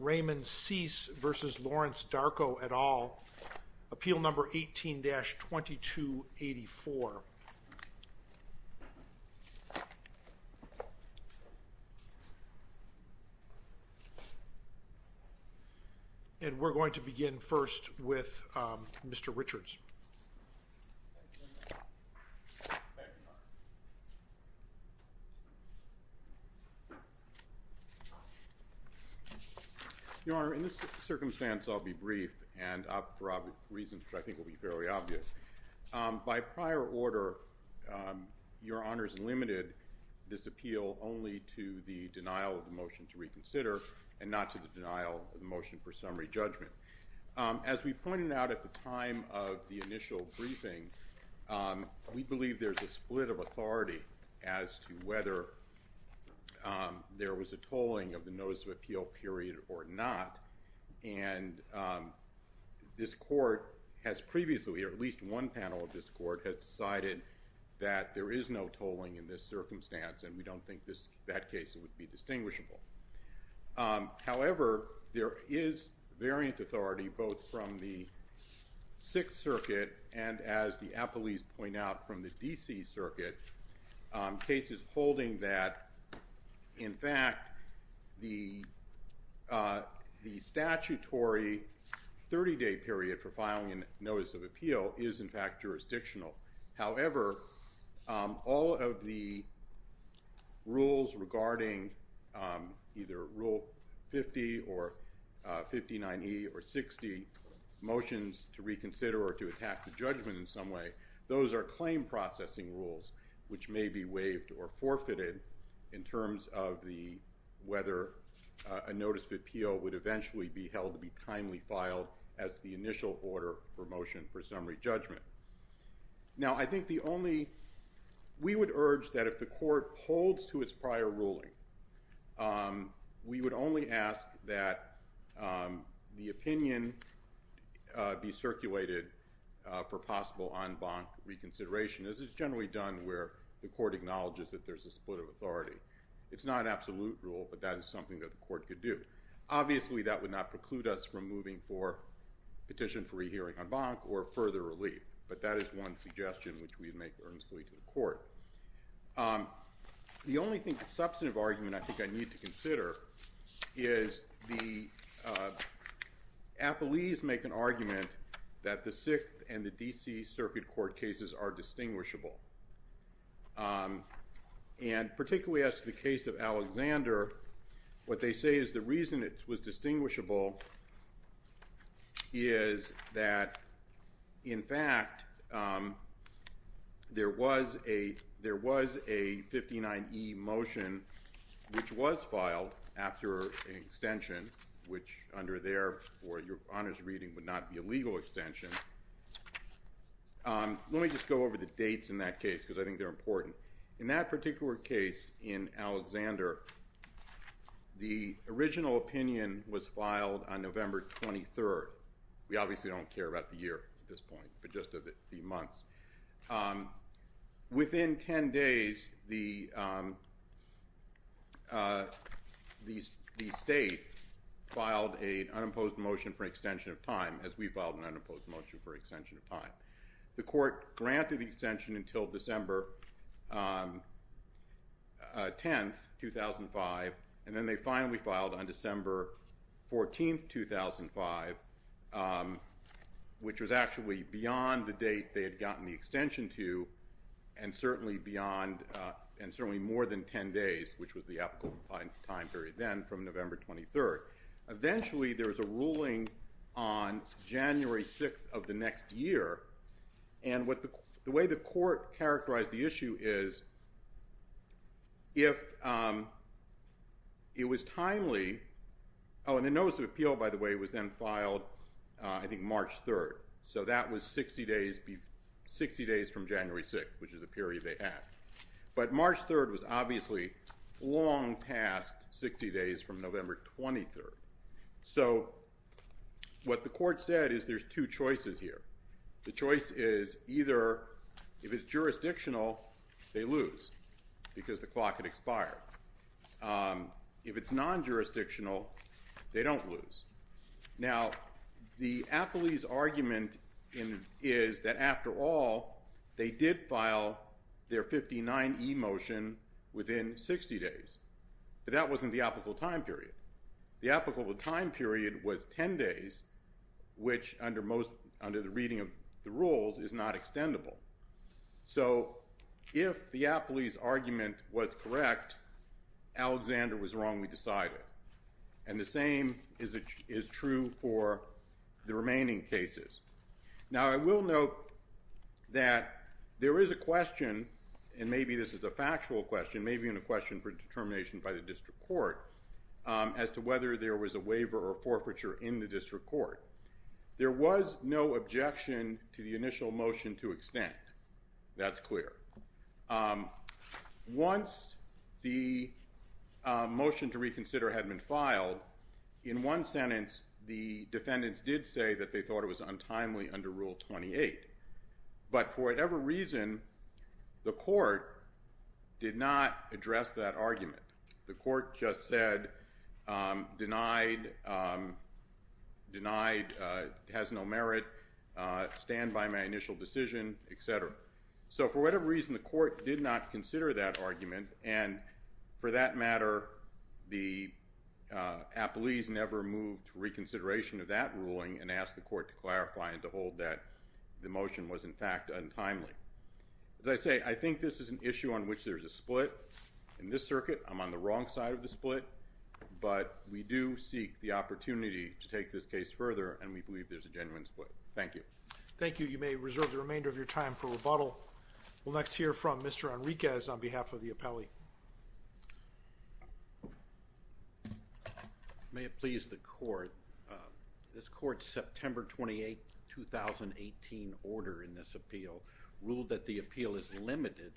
et al, appeal number 18-2284. And we're going to begin first with Mr. Richards. Your Honor, in this circumstance I'll be brief, and for reasons which I think will be fairly obvious. By prior order, Your Honor's limited this appeal only to the denial of the motion to reconsider, and not to the denial of the motion for summary judgment. As we pointed out at the time of the initial briefing, we believe there's a split of authority as to whether there was a tolling of the notice of appeal period or not. And this Court has previously, or at least one panel of this Court, has decided that there is no tolling in this circumstance, and we don't think that case would be distinguishable. However, there is variant authority, both from the Sixth Circuit and, as the appellees point out, from the D.C. Circuit, cases holding that, in fact, the statutory 30-day period for filing a notice of appeal is, in fact, jurisdictional. However, all of the rules regarding either Rule 50 or 59E or 60, motions to reconsider or to attack the judgment in some way, those are claim processing rules, which may be waived or forfeited in terms of whether a notice of appeal would eventually be held to be timely judgment. Now, I think the only—we would urge that if the Court holds to its prior ruling, we would only ask that the opinion be circulated for possible en banc reconsideration, as is generally done where the Court acknowledges that there's a split of authority. It's not absolute rule, but that is something that the Court could do. Obviously, that would not preclude us from moving for petition for rehearing en banc or further relief, but that is one suggestion which we would make earnestly to the Court. The only substantive argument I think I need to consider is the—appellees make an argument that the Sixth and the D.C. Circuit Court cases are distinguishable. And particularly as to the case of Alexander, what they say is the reason it was distinguishable is that, in fact, there was a 59E motion which was filed after an extension, which under their or your Honor's reading would not be a legal extension. Let me just go over the dates in that case, because I think they're important. In that particular case in Alexander, the original opinion was filed on November 23rd. We obviously don't care about the year at this point, but just the months. Within 10 days, the State filed an unopposed motion for extension of time, as we filed an unopposed motion for extension of time. The Court granted the extension until December 10th, 2005, and then they finally filed on December 14th, 2005, which was actually beyond the date they had gotten the extension to and certainly beyond—and certainly more than 10 days, which was the applicable time period then from November 23rd. Eventually, there was a ruling on January 6th of the next year, and the way the Court characterized the issue is, if it was timely—oh, and the notice of appeal, by the way, was then filed, I think, March 3rd. So that was 60 days from January 6th, which is the period they had. But March 3rd was obviously long past 60 days from November 23rd. So what the Court said is there's two choices here. The choice is either if it's jurisdictional, they lose because the clock had expired. If it's non-jurisdictional, they don't lose. Now, the Apley's argument is that, after all, they did file their 59E motion within 60 days, but that wasn't the applicable time period. The applicable time period was 10 days, which, under the reading of the rules, is not extendable. So if the Apley's argument was correct, Alexander was wrong, we decided. And the same is true for the remaining cases. Now, I will note that there is a question, and maybe this is a factual question, maybe even a question for determination by the District Court, as to whether there was a waiver or forfeiture in the District Court. There was no objection to the initial motion to extend. That's clear. Once the motion to reconsider had been filed, in one sentence, the defendants did say that they thought it was untimely under Rule 28. But for whatever reason, the Court did not address that argument. The Court just said, denied, has no merit, stand by my initial decision, et cetera. So for whatever reason, the Court did not consider that argument, and for that matter, the Apley's never moved to reconsideration of that ruling and asked the Court to clarify and to hold that the motion was, in fact, untimely. As I say, I think this is an issue on which there's a split. In this circuit, I'm on the wrong side of the split, but we do seek the opportunity to take this case further, and we believe there's a genuine split. Thank you. Thank you. You may reserve the remainder of your time for rebuttal. We'll next hear from Mr. Enriquez on behalf of the Apley. May it please the Court, this Court's September 28, 2018, order in this appeal ruled that the appeal is limited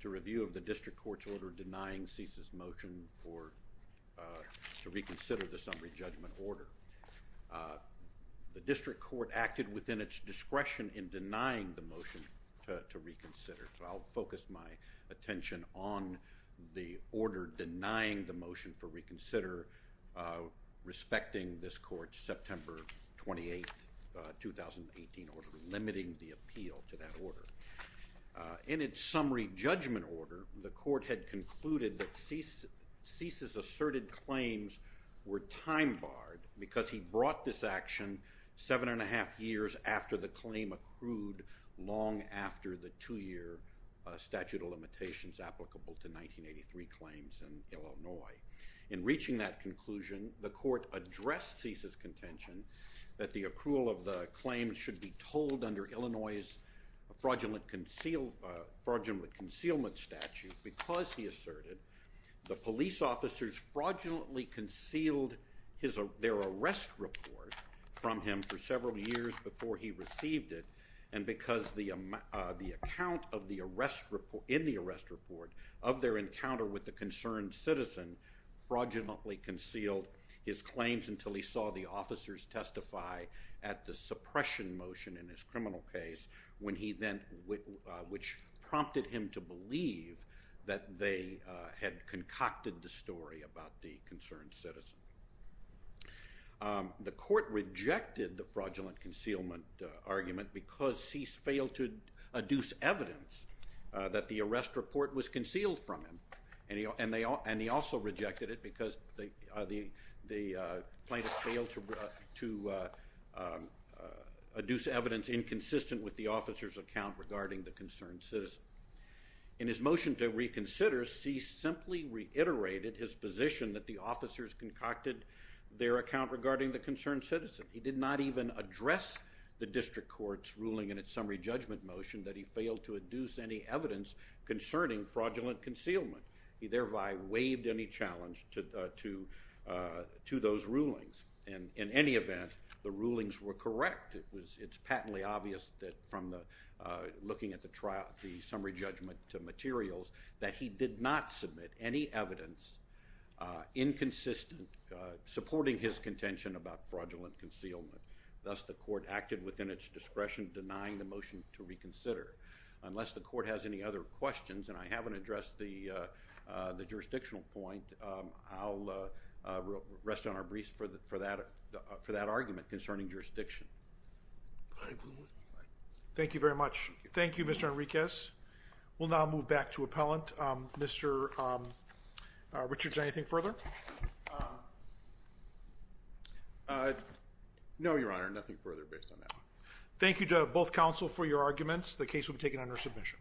to review of the District Court's order denying CESA's motion to reconsider the summary judgment order. The District Court acted within its discretion in denying the motion to reconsider, so I'll focus my attention on the order denying the motion for reconsider, respecting this Court's September 28, 2018, order, limiting the appeal to that order. In its summary judgment order, the Court had concluded that CESA's asserted claims were time-barred because he brought this action seven and a half years after the claim accrued long after the two-year statute of limitations applicable to 1983 claims in Illinois. In reaching that conclusion, the Court addressed CESA's contention that the accrual of the claims should be told under Illinois's fraudulent concealment statute because, he asserted, the police officers fraudulently concealed their arrest report from him for several years before he received it, and because the account in the arrest report of their encounter with the concerned citizen fraudulently concealed his claims until he saw the officers testify at the suppression motion in his criminal case, which prompted him to believe that they had concocted the story about the concerned citizen. The Court rejected the fraudulent concealment argument because CESA failed to adduce evidence that the arrest report was concealed from him, and he also rejected it because the plaintiffs failed to adduce evidence inconsistent with the officers' account regarding the concerned citizen. In his motion to reconsider, CESA simply reiterated his position that the officers concocted their account regarding the concerned citizen. He did not even address the district court's ruling in its summary judgment motion that he failed to adduce any evidence concerning fraudulent concealment. He thereby waived any challenge to those rulings, and in any event, the rulings were correct. It's patently obvious from looking at the summary judgment materials that he did not submit any evidence inconsistent, supporting his contention about fraudulent concealment. Thus, the Court acted within its discretion, denying the motion to reconsider. Unless the Court has any other questions, and I haven't addressed the jurisdictional point, I'll rest on our briefs for that argument concerning jurisdiction. Thank you very much. Thank you, Mr. Enriquez. We'll now move back to appellant. Mr. Richards, anything further? No, Your Honor, nothing further based on that. Thank you to both counsel for your arguments. The case will be taken under submission.